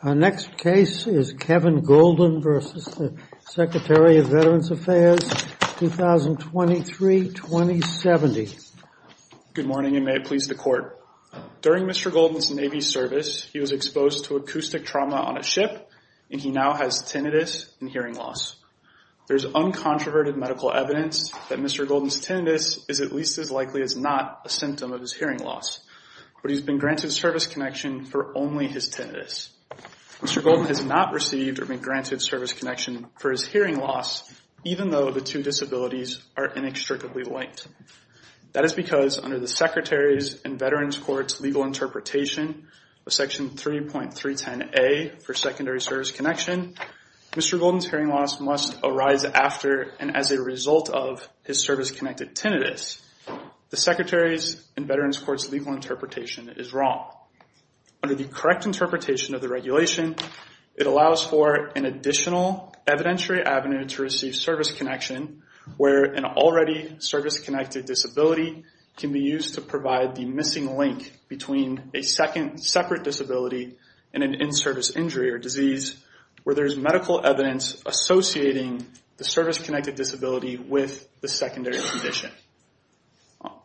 Our next case is Kevin Golden versus the Secretary of Veterans Affairs 2023-2070. Good morning and may it please the court. During Mr. Golden's Navy service he was exposed to acoustic trauma on a ship and he now has tinnitus and hearing loss. There's uncontroverted medical evidence that Mr. Golden's tinnitus is at least as likely as not a symptom of his hearing loss but he's been granted service connection for only his tinnitus. Mr. Golden has not received or been granted service connection for his hearing loss even though the two disabilities are inextricably linked. That is because under the Secretary's and Veterans Court's legal interpretation of section 3.310a for secondary service connection, Mr. Golden's hearing loss must arise after and as a result of his service-connected tinnitus. The Secretary's and Veterans Court's legal interpretation is wrong. Under the correct interpretation of the regulation it allows for an additional evidentiary avenue to receive service connection where an already service-connected disability can be used to provide the missing link between a second separate disability and an in-service injury or disease where there's medical evidence associating the service-connected disability with the secondary condition.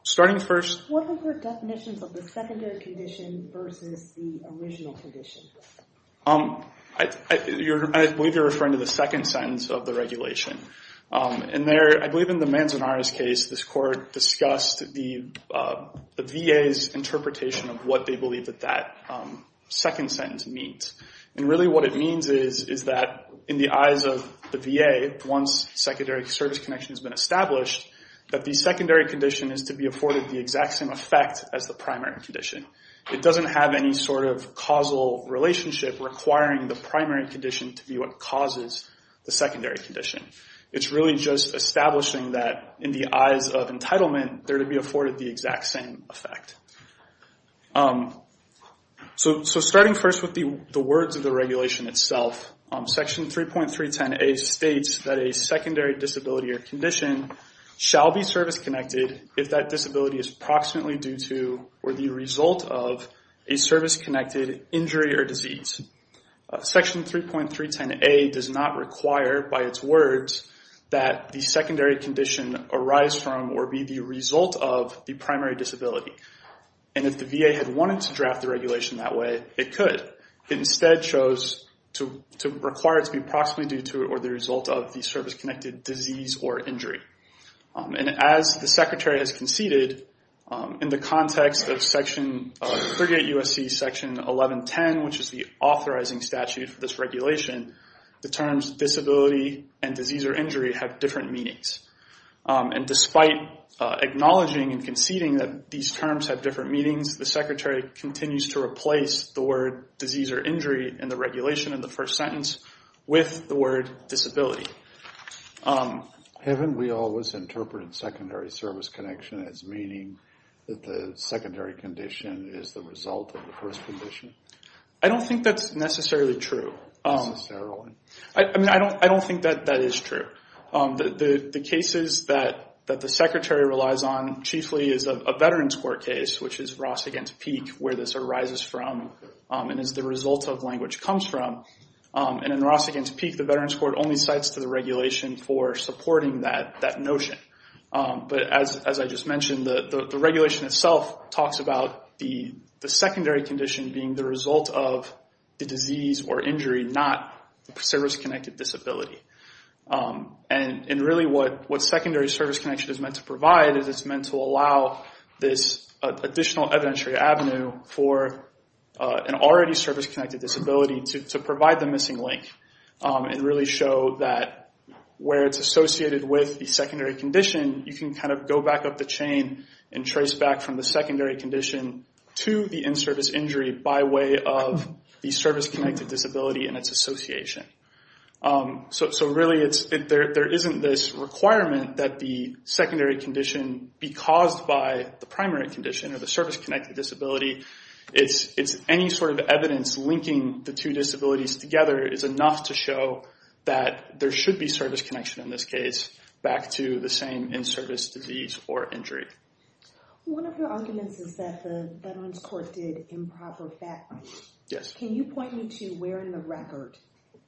Starting first... What are your definitions of the secondary condition versus the original condition? I believe you're referring to the second sentence of the regulation. I believe in the Manzanares case this court discussed the VA's interpretation of what they once secondary service connection has been established that the secondary condition is to be afforded the exact same effect as the primary condition. It doesn't have any sort of causal relationship requiring the primary condition to be what causes the secondary condition. It's really just establishing that in the eyes of entitlement they're to be afforded the exact same effect. Starting first with the words of the regulation itself, section 3.310a states that a secondary disability or condition shall be service-connected if that disability is approximately due to or the result of a service-connected injury or disease. Section 3.310a does not require by its words that the secondary condition arise from or be the result of the primary disability and if the VA had wanted to draft the regulation that way it could. It instead chose to require it to be approximately due to or the result of the service-connected disease or injury. As the Secretary has conceded in the context of Section 38 U.S.C. Section 1110 which is the authorizing statute for this regulation, the terms disability and disease or injury have different meanings. Despite acknowledging and conceding that these terms have different meanings, the Secretary continues to replace the word disease or injury in the regulation in the first sentence with the word disability. Haven't we always interpreted secondary service connection as meaning that the secondary condition is the result of the first condition? I don't think that's necessarily true. I mean I don't think that that is true. The cases that the Secretary relies on chiefly is a Veterans Court case which is Ross against Peak where this arises from and is the result of language comes from. In Ross against Peak, the Veterans Court only cites to the regulation for supporting that notion. But as I just mentioned, the regulation itself talks about the secondary condition being the result of the disease or injury not service-connected disability. And really what secondary service connection is meant to provide is it's meant to allow this additional evidentiary avenue for an already service-connected disability to provide the missing link and really show that where it's associated with the secondary condition, you can kind of go back up the chain and trace back from the secondary condition to the in-service injury by way of the service-connected disability and its association. So really there isn't this requirement that the secondary condition be caused by the primary condition or the service-connected disability. It's any sort of evidence linking the two disabilities together is enough to show that there should be service connection in this case back to the same in-service disease or injury. One of your arguments is that the Veterans Court did improper fact-checking. Yes. Can you point me to where in the record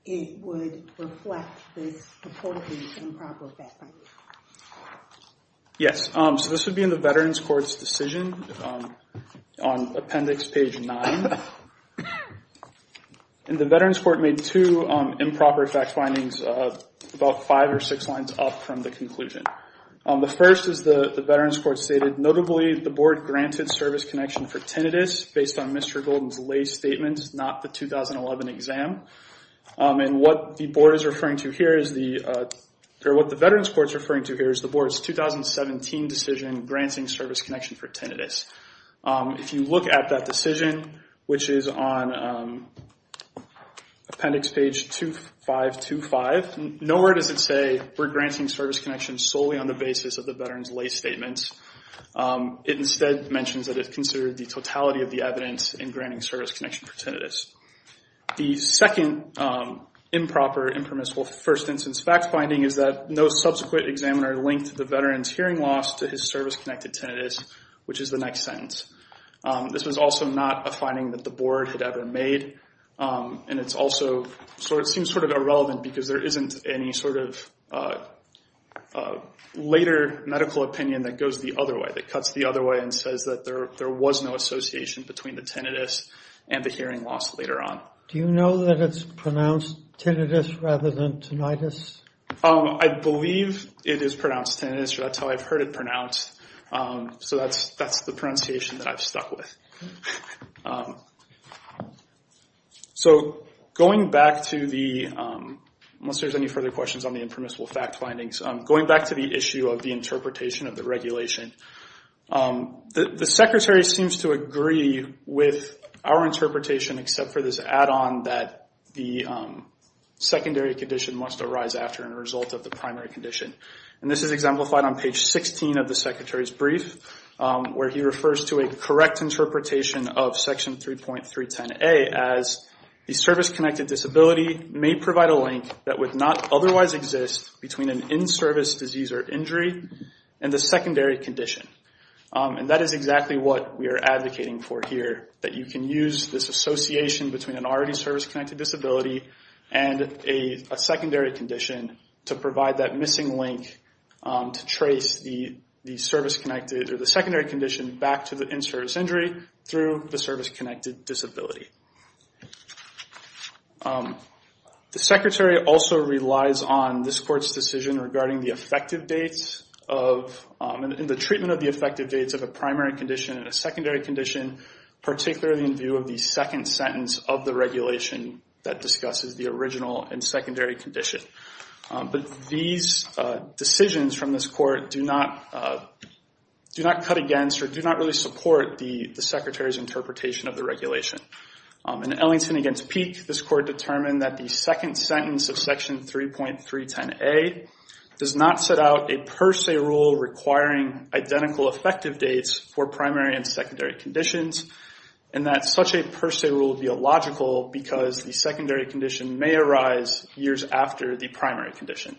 it would reflect this purported improper fact-finding? Yes. So this would be in the Veterans Court's decision on Appendix Page 9. And the Veterans Court made two improper fact-findings about five or six lines up from the conclusion. The first is the Veterans Court stated, notably, the board granted service connection for tinnitus based on Mr. Scott, the 2011 exam. And what the board is referring to here is the, or what the Veterans Court is referring to here is the board's 2017 decision granting service connection for tinnitus. If you look at that decision, which is on Appendix Page 2525, nowhere does it say we're granting service connection solely on the basis of the veteran's lay statement. It instead mentions that it considered the totality of the evidence in granting service connection for tinnitus. The second improper, impermissible first instance fact-finding is that no subsequent examiner linked the veteran's hearing loss to his service-connected tinnitus, which is the next sentence. This was also not a finding that the board had ever made. And it's also, so it seems sort of because there isn't any sort of later medical opinion that goes the other way, that cuts the other way and says that there was no association between the tinnitus and the hearing loss later on. Do you know that it's pronounced tinnitus rather than tinnitus? I believe it is pronounced tinnitus. That's how I've heard it pronounced. So that's the pronunciation that I've stuck with. So going back to the, unless there's any further questions on the impermissible fact findings, going back to the issue of the interpretation of the regulation, the Secretary seems to agree with our interpretation except for this add-on that the secondary condition must arise after and result of the primary condition. And this is exemplified on page 16 of the Secretary's brief, where he refers to a correct interpretation of section 3.310A as the service-connected disability may provide a link that would not otherwise exist between an in-service disease or injury and the secondary condition. And that is exactly what we are advocating for here, that you can use this association between an already service-connected disability and a secondary condition to provide that missing link to trace the secondary condition back to the in-service injury through the service-connected disability. The Secretary also relies on this Court's decision regarding the effective dates of, and the treatment of the effective dates of a primary condition and a secondary condition, particularly in view of the second sentence of the regulation that discusses the original and secondary condition. But these decisions from this Court do not cut against or do not really support the Secretary's interpretation of the regulation. In Ellington v. Peek, this Court determined that the second sentence of section 3.310A does not set out a per se rule requiring identical effective dates for primary and secondary conditions, and that such a per se rule would be illogical because the secondary condition may arise years after the primary condition.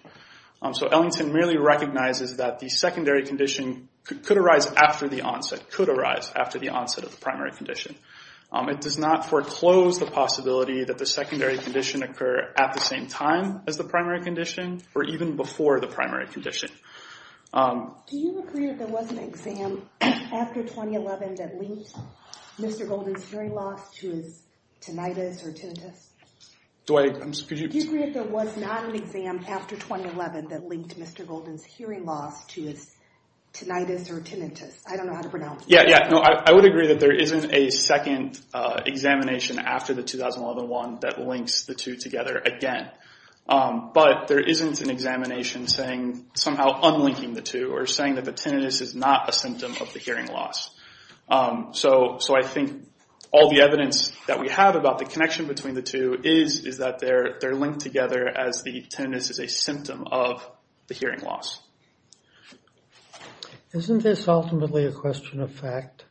So Ellington merely recognizes that the secondary condition could arise after the onset, could arise after the onset of the primary condition. It does not foreclose the possibility that the secondary condition occur at the same time as the primary condition or even before the condition. Do you agree that there was an exam after 2011 that linked Mr. Golden's hearing loss to his tinnitus or tinnitus? Do I, could you? Do you agree that there was not an exam after 2011 that linked Mr. Golden's hearing loss to his tinnitus or tinnitus? I don't know how to pronounce that. Yeah, yeah. No, I would agree that there isn't a second examination after the 2011 one that links the two together again. But there isn't an examination saying somehow unlinking the two or saying that the tinnitus is not a symptom of the hearing loss. So I think all the evidence that we have about the connection between the two is that they're linked together as the tinnitus is a symptom of the hearing loss. Isn't this ultimately a question of fact?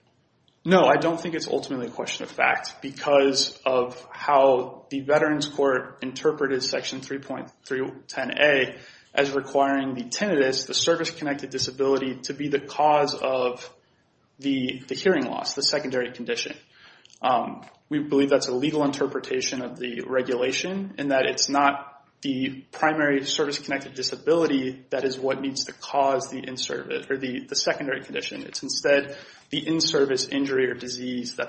No, I don't think it's ultimately a question of fact because of how the Veterans Court interpreted Section 3.310A as requiring the tinnitus, the service-connected disability, to be the cause of the hearing loss, the secondary condition. We believe that's a legal interpretation of the regulation in that it's not the primary service-connected disability that is what needs to cause the in-service or the that's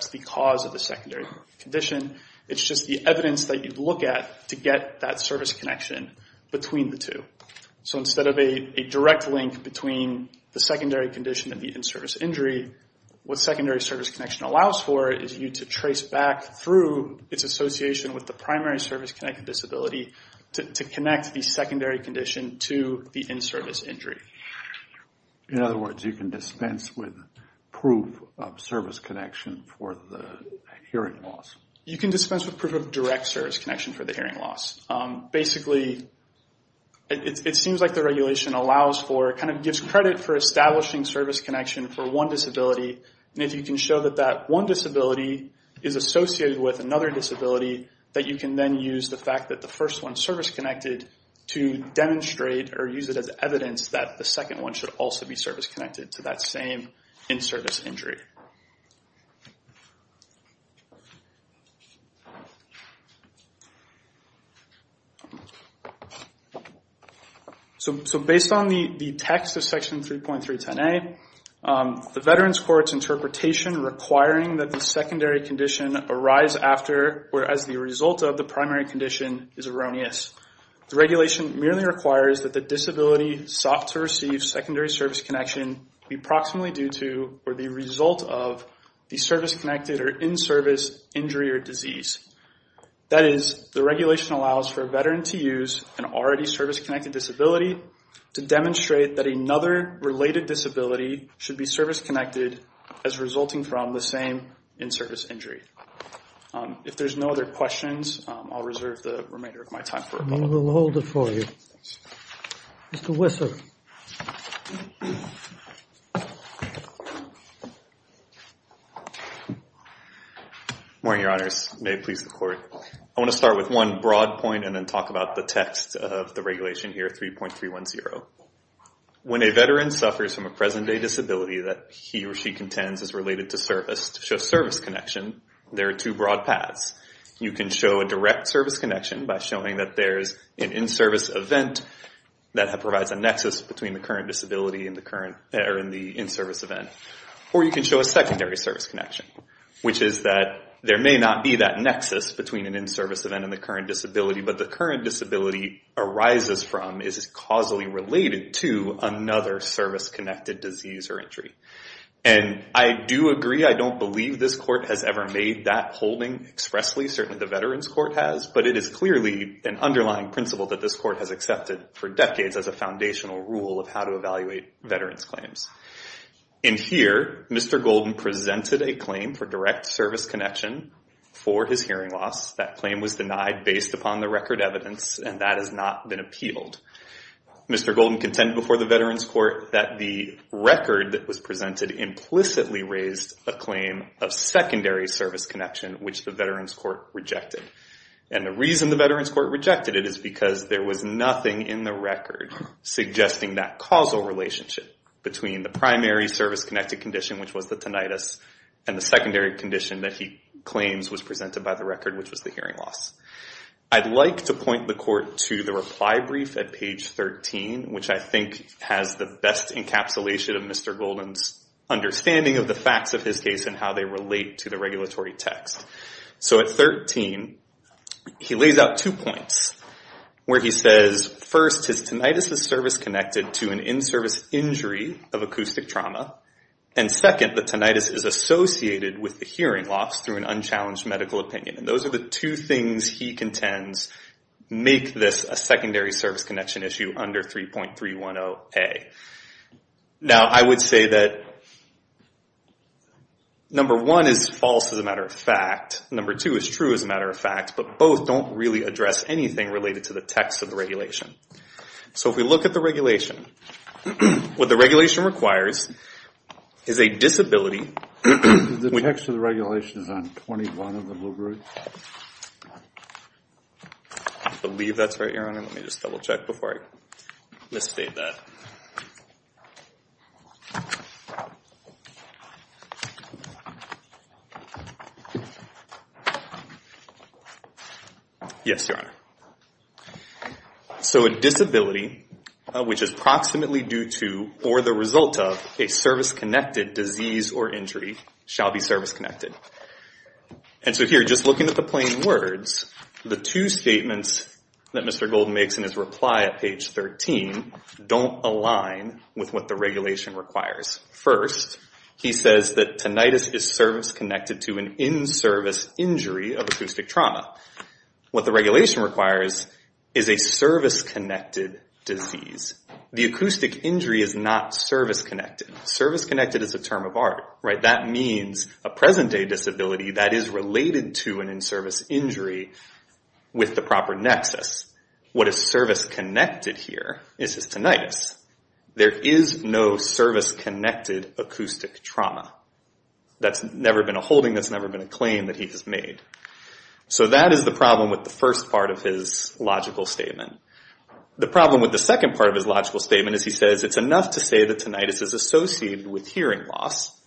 the cause of the secondary condition. It's just the evidence that you look at to get that service connection between the two. So instead of a direct link between the secondary condition and the in-service injury, what secondary service connection allows for is you to trace back through its association with the primary service-connected disability to connect the secondary condition to the in-service injury. In other words, you can dispense with proof of service connection for the hearing loss. You can dispense with proof of direct service connection for the hearing loss. Basically, it seems like the regulation allows for, kind of gives credit for establishing service connection for one disability, and if you can show that that one disability is associated with another disability, that you can then use the fact that the first one's service-connected to demonstrate or use it as evidence that the second one should also be service-connected to that same in-service injury. So based on the text of Section 3.310a, the Veterans Court's interpretation requiring that the secondary condition arrives after, whereas the result of, the primary condition is erroneous. The regulation merely requires that the disability sought to receive secondary service connection be approximately due to or the result of the service-connected or in-service injury or disease. That is, the regulation allows for a veteran to use an already service-connected disability to demonstrate that another related disability should be service-connected as resulting from the same in-service injury. If there's no other questions, I'll reserve the remainder of my time for a moment. We will hold it for you. Mr. Whistler. Morning, Your Honors. May it please the Court. I want to start with one broad point and then talk about the text of the regulation here, 3.310. When a veteran suffers from a present-day disability that he or she contends is related to service, to show service connection, there are two broad paths. You can show a direct service connection by showing that there's an in-service event that provides a nexus between the current disability and the in-service event. Or you can show a secondary service connection, which is that there may not be that nexus between an in-service event and the current disability, but the current disability arises from is causally related to another service-connected disease or injury. I do agree, I don't believe this Court has ever made that holding expressly, certainly the Veterans Court has, but it is clearly an underlying principle that this Court has accepted for decades as a foundational rule of how to evaluate veterans' claims. In here, Mr. Golden presented a claim for direct service connection for his hearing loss. That claim was denied based upon the record evidence, and that has not been appealed. Mr. Golden contended before the Veterans Court that the record that was presented implicitly raised a claim of secondary service connection, which the Veterans Court rejected. And the reason the Veterans Court rejected it is because there was nothing in the record suggesting that causal relationship between the primary service-connected condition, which was the tinnitus, and the secondary condition that he claims was presented by the record, which was the hearing loss. I'd like to point the Court to the reply brief at page 13, which I think has the best encapsulation of Mr. Golden's understanding of the facts of his case and how they relate to the regulatory text. So at 13, he lays out two points where he says, first, his tinnitus is service-connected to an in-service injury of acoustic trauma, and second, the tinnitus is associated with the hearing loss through an unchallenged medical opinion. And those are the two things he contends make this a secondary service connection issue under 3.310A. Now, I would say that number one is false as a matter of fact, number two is true as a matter of fact, but both don't really address anything related to the text of the regulation. So if we look at the regulation, what the regulation requires is a disability... The text of the regulation is on 21 of the library. I believe that's right, Your Honor. Let me just double check before I misstate that. Yes, Your Honor. So a disability which is proximately due to or the result of a service-connected disease or injury shall be service-connected. And so here, just looking at the plain words, the two statements that Mr. Golden makes in his reply at page 13 don't align with what the regulation requires. First, he says that tinnitus is service-connected to an in-service injury of acoustic trauma. What the regulation requires is a service-connected disease. The acoustic injury is not service-connected. Service-connected is a term of art, right? That means a present-day disability that is related to an in-service injury with the proper nexus. What is service-connected here is his tinnitus. There is no service-connected acoustic trauma. That's never been a holding. That's never been a claim that he has made. So that is the problem with the first part of his logical statement. The problem with the second part of his logical statement is he says it's enough to say that tinnitus is associated with hearing loss,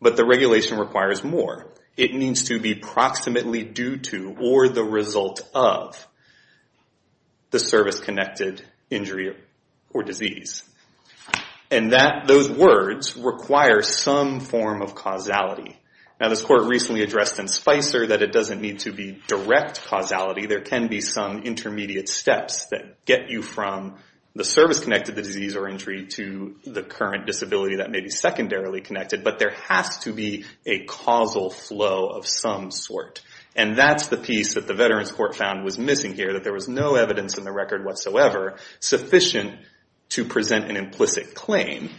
but the regulation requires more. It needs to be approximately due to or the result of the service-connected injury or disease. And those words require some form of causality. Now, this Court recently addressed in Spicer that it doesn't need to be direct causality. There can be some intermediate steps that get you from the service-connected disease or injury to the current disability that may be secondarily connected, but there has to be a causal flow of some sort. And that's the piece that the Veterans Court found was missing here, that there was no evidence in the record whatsoever sufficient to present an implicit claim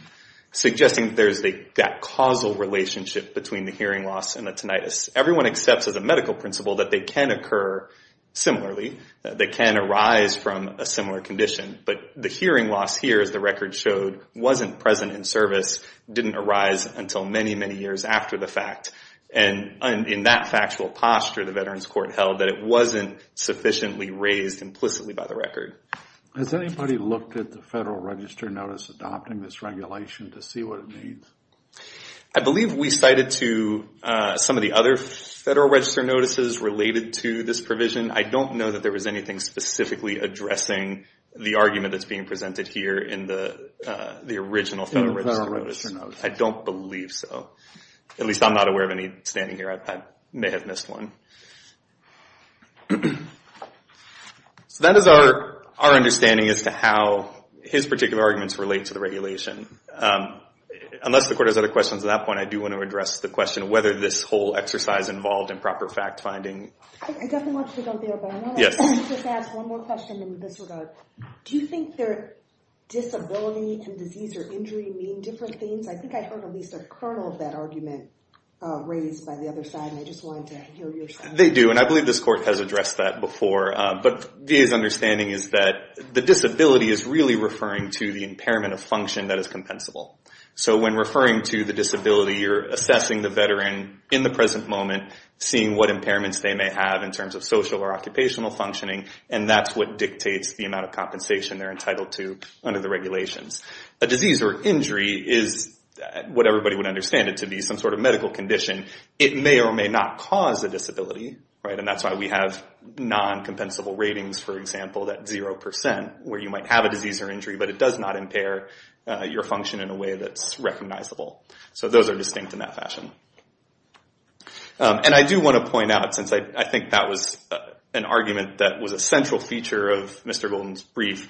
suggesting that there's that causal relationship between the hearing loss and the tinnitus. Everyone accepts as a medical principle that they can occur similarly, that they can arise from a similar condition, but the hearing loss here, as the record showed, wasn't present in the service, didn't arise until many, many years after the fact. And in that factual posture, the Veterans Court held that it wasn't sufficiently raised implicitly by the record. Has anybody looked at the Federal Register Notice adopting this regulation to see what it means? I believe we cited to some of the other Federal Register Notices related to this provision. I don't know that there was anything specifically addressing the argument that's being presented here in the original Federal Register Notice. I don't believe so. At least I'm not aware of any standing here. I may have missed one. So that is our understanding as to how his particular arguments relate to the regulation. Unless the Court has other questions at that point, I do want to address the question whether this whole exercise involved improper fact-finding. I definitely want you to jump in, but I want to just ask one more question in this regard. Do you think that disability and disease or injury mean different things? I think I heard at least a kernel of that argument raised by the other side, and I just wanted to hear yours. They do, and I believe this Court has addressed that before. But VA's understanding is that the disability is really referring to the impairment of function that is compensable. So when referring to the disability, you're assessing the Veteran in the present moment, seeing what impairments they may have in terms of social or occupational functioning, and that's what dictates the amount of compensation they're entitled to under the regulations. A disease or injury is what everybody would understand it to be, some sort of medical condition. It may or may not cause a disability, and that's why we have non-compensable ratings, for example, that 0%, where you might have a disease or injury, but it does not impair your function in a way that's recognizable. So those are distinct in that fashion. And I do want to point out, since I think that was an argument that was a central feature of Mr. Golden's brief,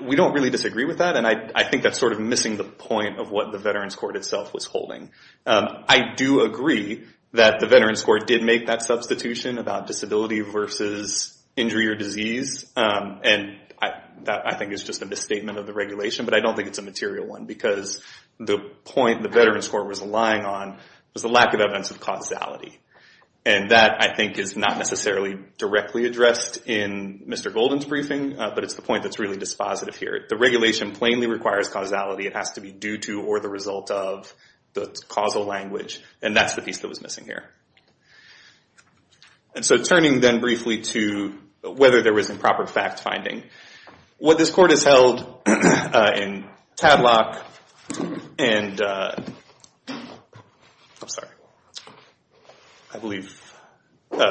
we don't really disagree with that, and I think that's sort of missing the point of what the Veterans Court itself was holding. I do agree that the Veterans Court did make that substitution about disability versus injury or disease, and that, I think, is just a misstatement of the regulation, but I don't think it's a material one, because the point the Veterans Court was relying on was the lack of evidence of causality, and that, I think, is not necessarily directly addressed in Mr. Golden's briefing, but it's the point that's really dispositive here. The regulation plainly requires causality. It has to be due to or the result of the causal language, and that's the piece that was missing here. And so turning then briefly to whether there was improper fact finding. What this court has held in Tadlock and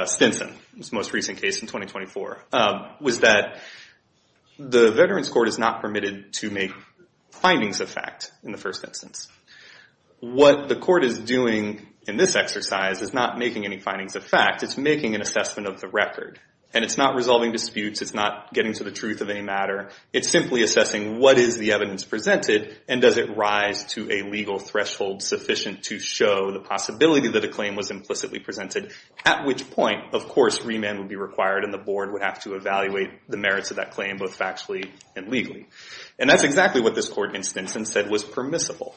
Stinson, the most recent case in 2024, was that the Veterans Court is not permitted to make findings of fact in the first instance. What the court is doing in this exercise is not making any findings of fact. It's making an assessment of the record, and it's not resolving disputes. It's not getting to the truth of any matter. It's simply assessing what is the evidence presented, and does it rise to a legal threshold sufficient to show the possibility that a claim was implicitly presented, at which point, of course, remand would be required, and the board would have to evaluate the merits of that claim, both factually and legally. And that's exactly what this court in Stinson said was permissible.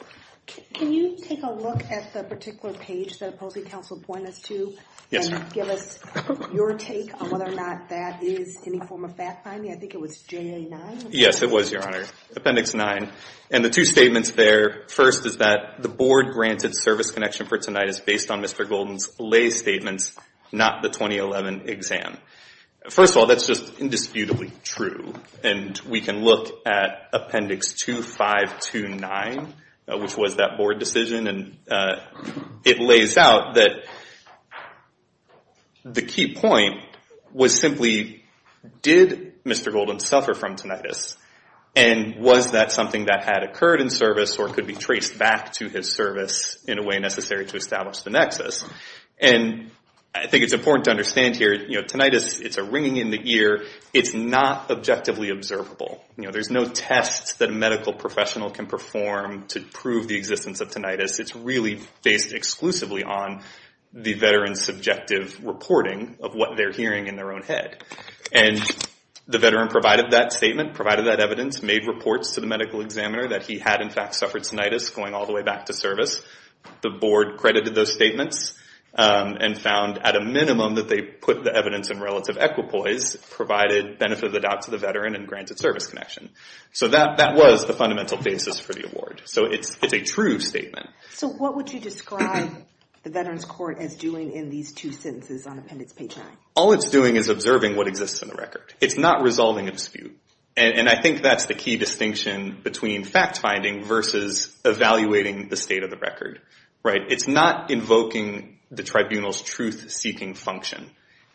Can you take a look at the particular page that Opposing and give us your take on whether or not that is any form of fact finding? I think it was January 9. Yes, it was, Your Honor, Appendix 9. And the two statements there, first, is that the board-granted service connection for tonight is based on Mr. Golden's lay statements, not the 2011 exam. First of all, that's just indisputably true, and we can look at Appendix 2529, which was that board decision, and it lays out that the key point was simply, did Mr. Golden suffer from tinnitus, and was that something that had occurred in service or could be traced back to his service in a way necessary to establish the nexus? And I think it's important to understand here, you know, tinnitus, it's a ringing in the ear. It's not objectively observable. You know, there's no tests that a medical professional can perform to prove the existence of tinnitus. It's really based exclusively on the veteran's subjective reporting of what they're hearing in their own head. And the veteran provided that statement, provided that evidence, made reports to the medical examiner that he had, in fact, suffered tinnitus going all the way back to service. The board credited those statements and found, at a minimum, that they put the evidence in relative equipoise, provided benefit of the doubt to the veteran, and granted service connection. So that was the fundamental basis for the award. So it's a true statement. So what would you describe the Veterans Court as doing in these two sentences on Appendix 29? All it's doing is observing what exists in the record. It's not resolving a dispute. And I think that's the key distinction between fact-finding versus evaluating the state of the record, right? It's not invoking the tribunal's truth-seeking function.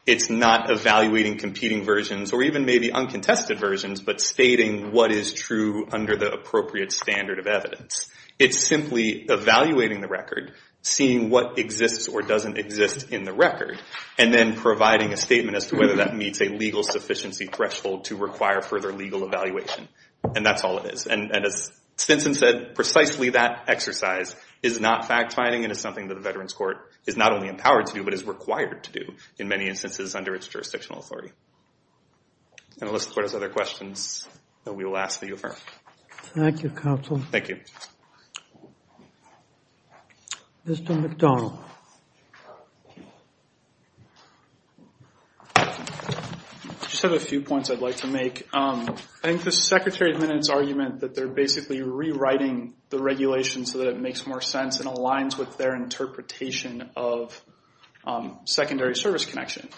It's not evaluating competing versions, or even maybe uncontested versions, but stating what is true under the appropriate standard of evidence. It's simply evaluating the record, seeing what exists or doesn't exist in the record, and then providing a statement as to whether that meets a legal sufficiency threshold to require further legal evaluation. And that's all it is. And as Stinson said, precisely that exercise is not fact-finding, and it's something that the Veterans Court is not only empowered to do, but is required to do in many instances under its jurisdictional authority. And I'll list as far as other questions that we will ask that you affirm. Thank you, counsel. Thank you. Mr. McDonald. I just have a few points I'd like to make. I think the Secretary of Minute's argument that they're rewriting the regulation so that it makes more sense and aligns with their interpretation of secondary service connection.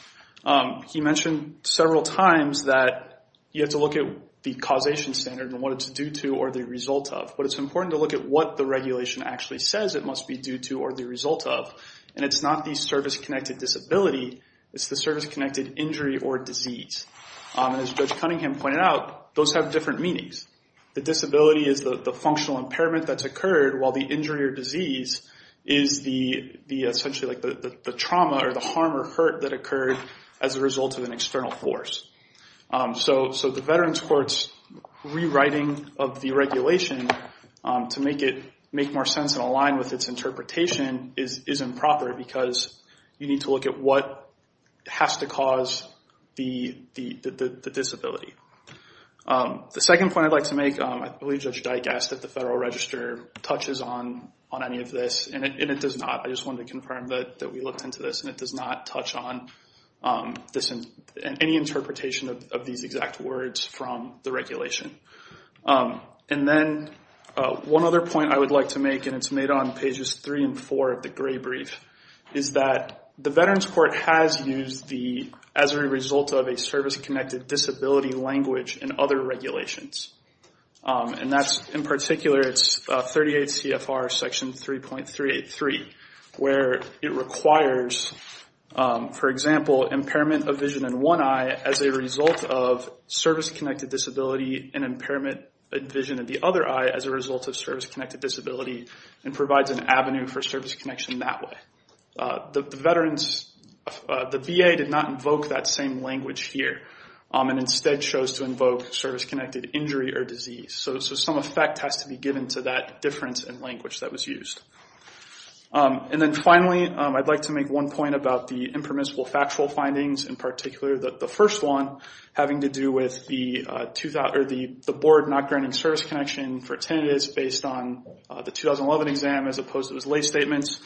He mentioned several times that you have to look at the causation standard and what it's due to or the result of. But it's important to look at what the regulation actually says it must be due to or the result of. And it's not the service-connected disability, it's the service-connected injury or disease. And as Judge Cunningham pointed out, those have different meanings. The disability is the functional impairment that's occurred, while the injury or disease is essentially the trauma or the harm or hurt that occurred as a result of an external force. So the Veterans Court's rewriting of the regulation to make it make more sense and align with its interpretation is improper, because you need to look at what has to cause the disability. The second point I'd like to make, I believe Judge Dyke asked if the Federal Register touches on any of this, and it does not. I just wanted to confirm that we looked into this, and it does not touch on any interpretation of these exact words from the regulation. And then one other point I would like to make, and it's made on pages three and four of the gray brief, is that the Veterans Court has used the as a result of a service-connected disability language in other regulations. And that's, in particular, it's 38 CFR section 3.383, where it requires, for example, impairment of vision in one eye as a result of service-connected disability and impairment of vision in the other eye as a result of service-connected disability, and provides an avenue for service connection that way. The VA did not invoke that same language here, and instead chose to invoke service-connected injury or disease. So some effect has to be given to that difference in language that was used. And then finally, I'd like to make one point about the impermissible factual findings, in particular the first one having to do with the the board not granting service connection for attendance based on the 2011 exam, as opposed to his lay statements.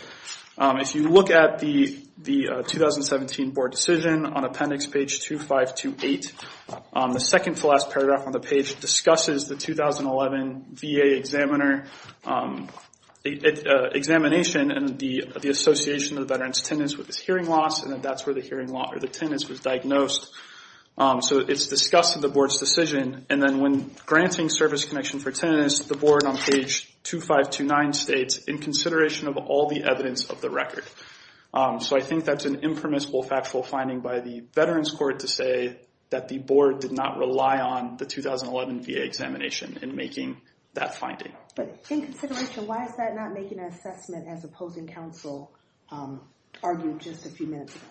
If you look at the 2017 board decision on appendix page 2528, the second to last paragraph on the page discusses the 2011 VA examiner examination and the association of the veteran's attendance with his hearing loss, and that's where the hearing loss or the attendance was diagnosed. So it's discussed in the board's decision, and then when granting service connection for attendance, the board on page 2529 states, in consideration of all the evidence of the record. So I think that's an impermissible factual finding by the veterans court to say that the board did not rely on the 2011 VA examination in making that finding. But in consideration, why is that not making an assessment as opposing counsel argued just a few minutes ago?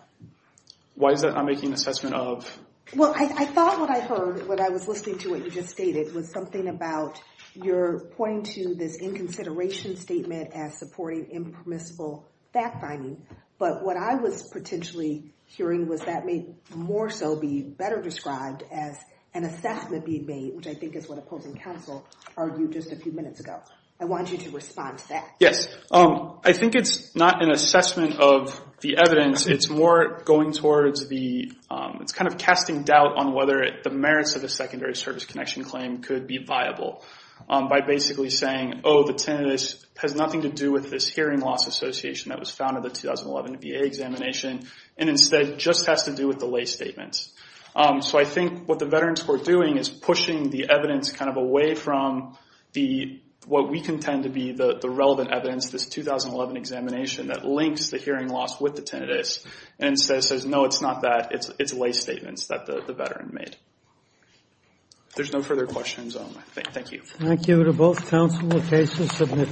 Why is that not making an assessment of? Well, I thought what I heard when I was listening to what you just stated was something about you're pointing to this inconsideration statement as supporting impermissible fact finding, but what I was potentially hearing was that may more so be better described as an assessment being made, which I think is what opposing counsel argued just a few minutes ago. I want you to respond to that. Yes, I think it's not an assessment of the evidence. It's more going towards the, it's kind of casting doubt on whether the merits of the secondary service connection claim could be viable by basically saying, oh, the tinnitus has nothing to do with this hearing loss association that was found in the 2011 VA examination, and instead just has to do with the lay statements. So I think what the veterans court doing is pushing the evidence kind of away from the, what we contend to be, the 2011 examination that links the hearing loss with the tinnitus and says, no, it's not that. It's lay statements that the veteran made. If there's no further questions, thank you. Thank you to both counsel. The case is submitted.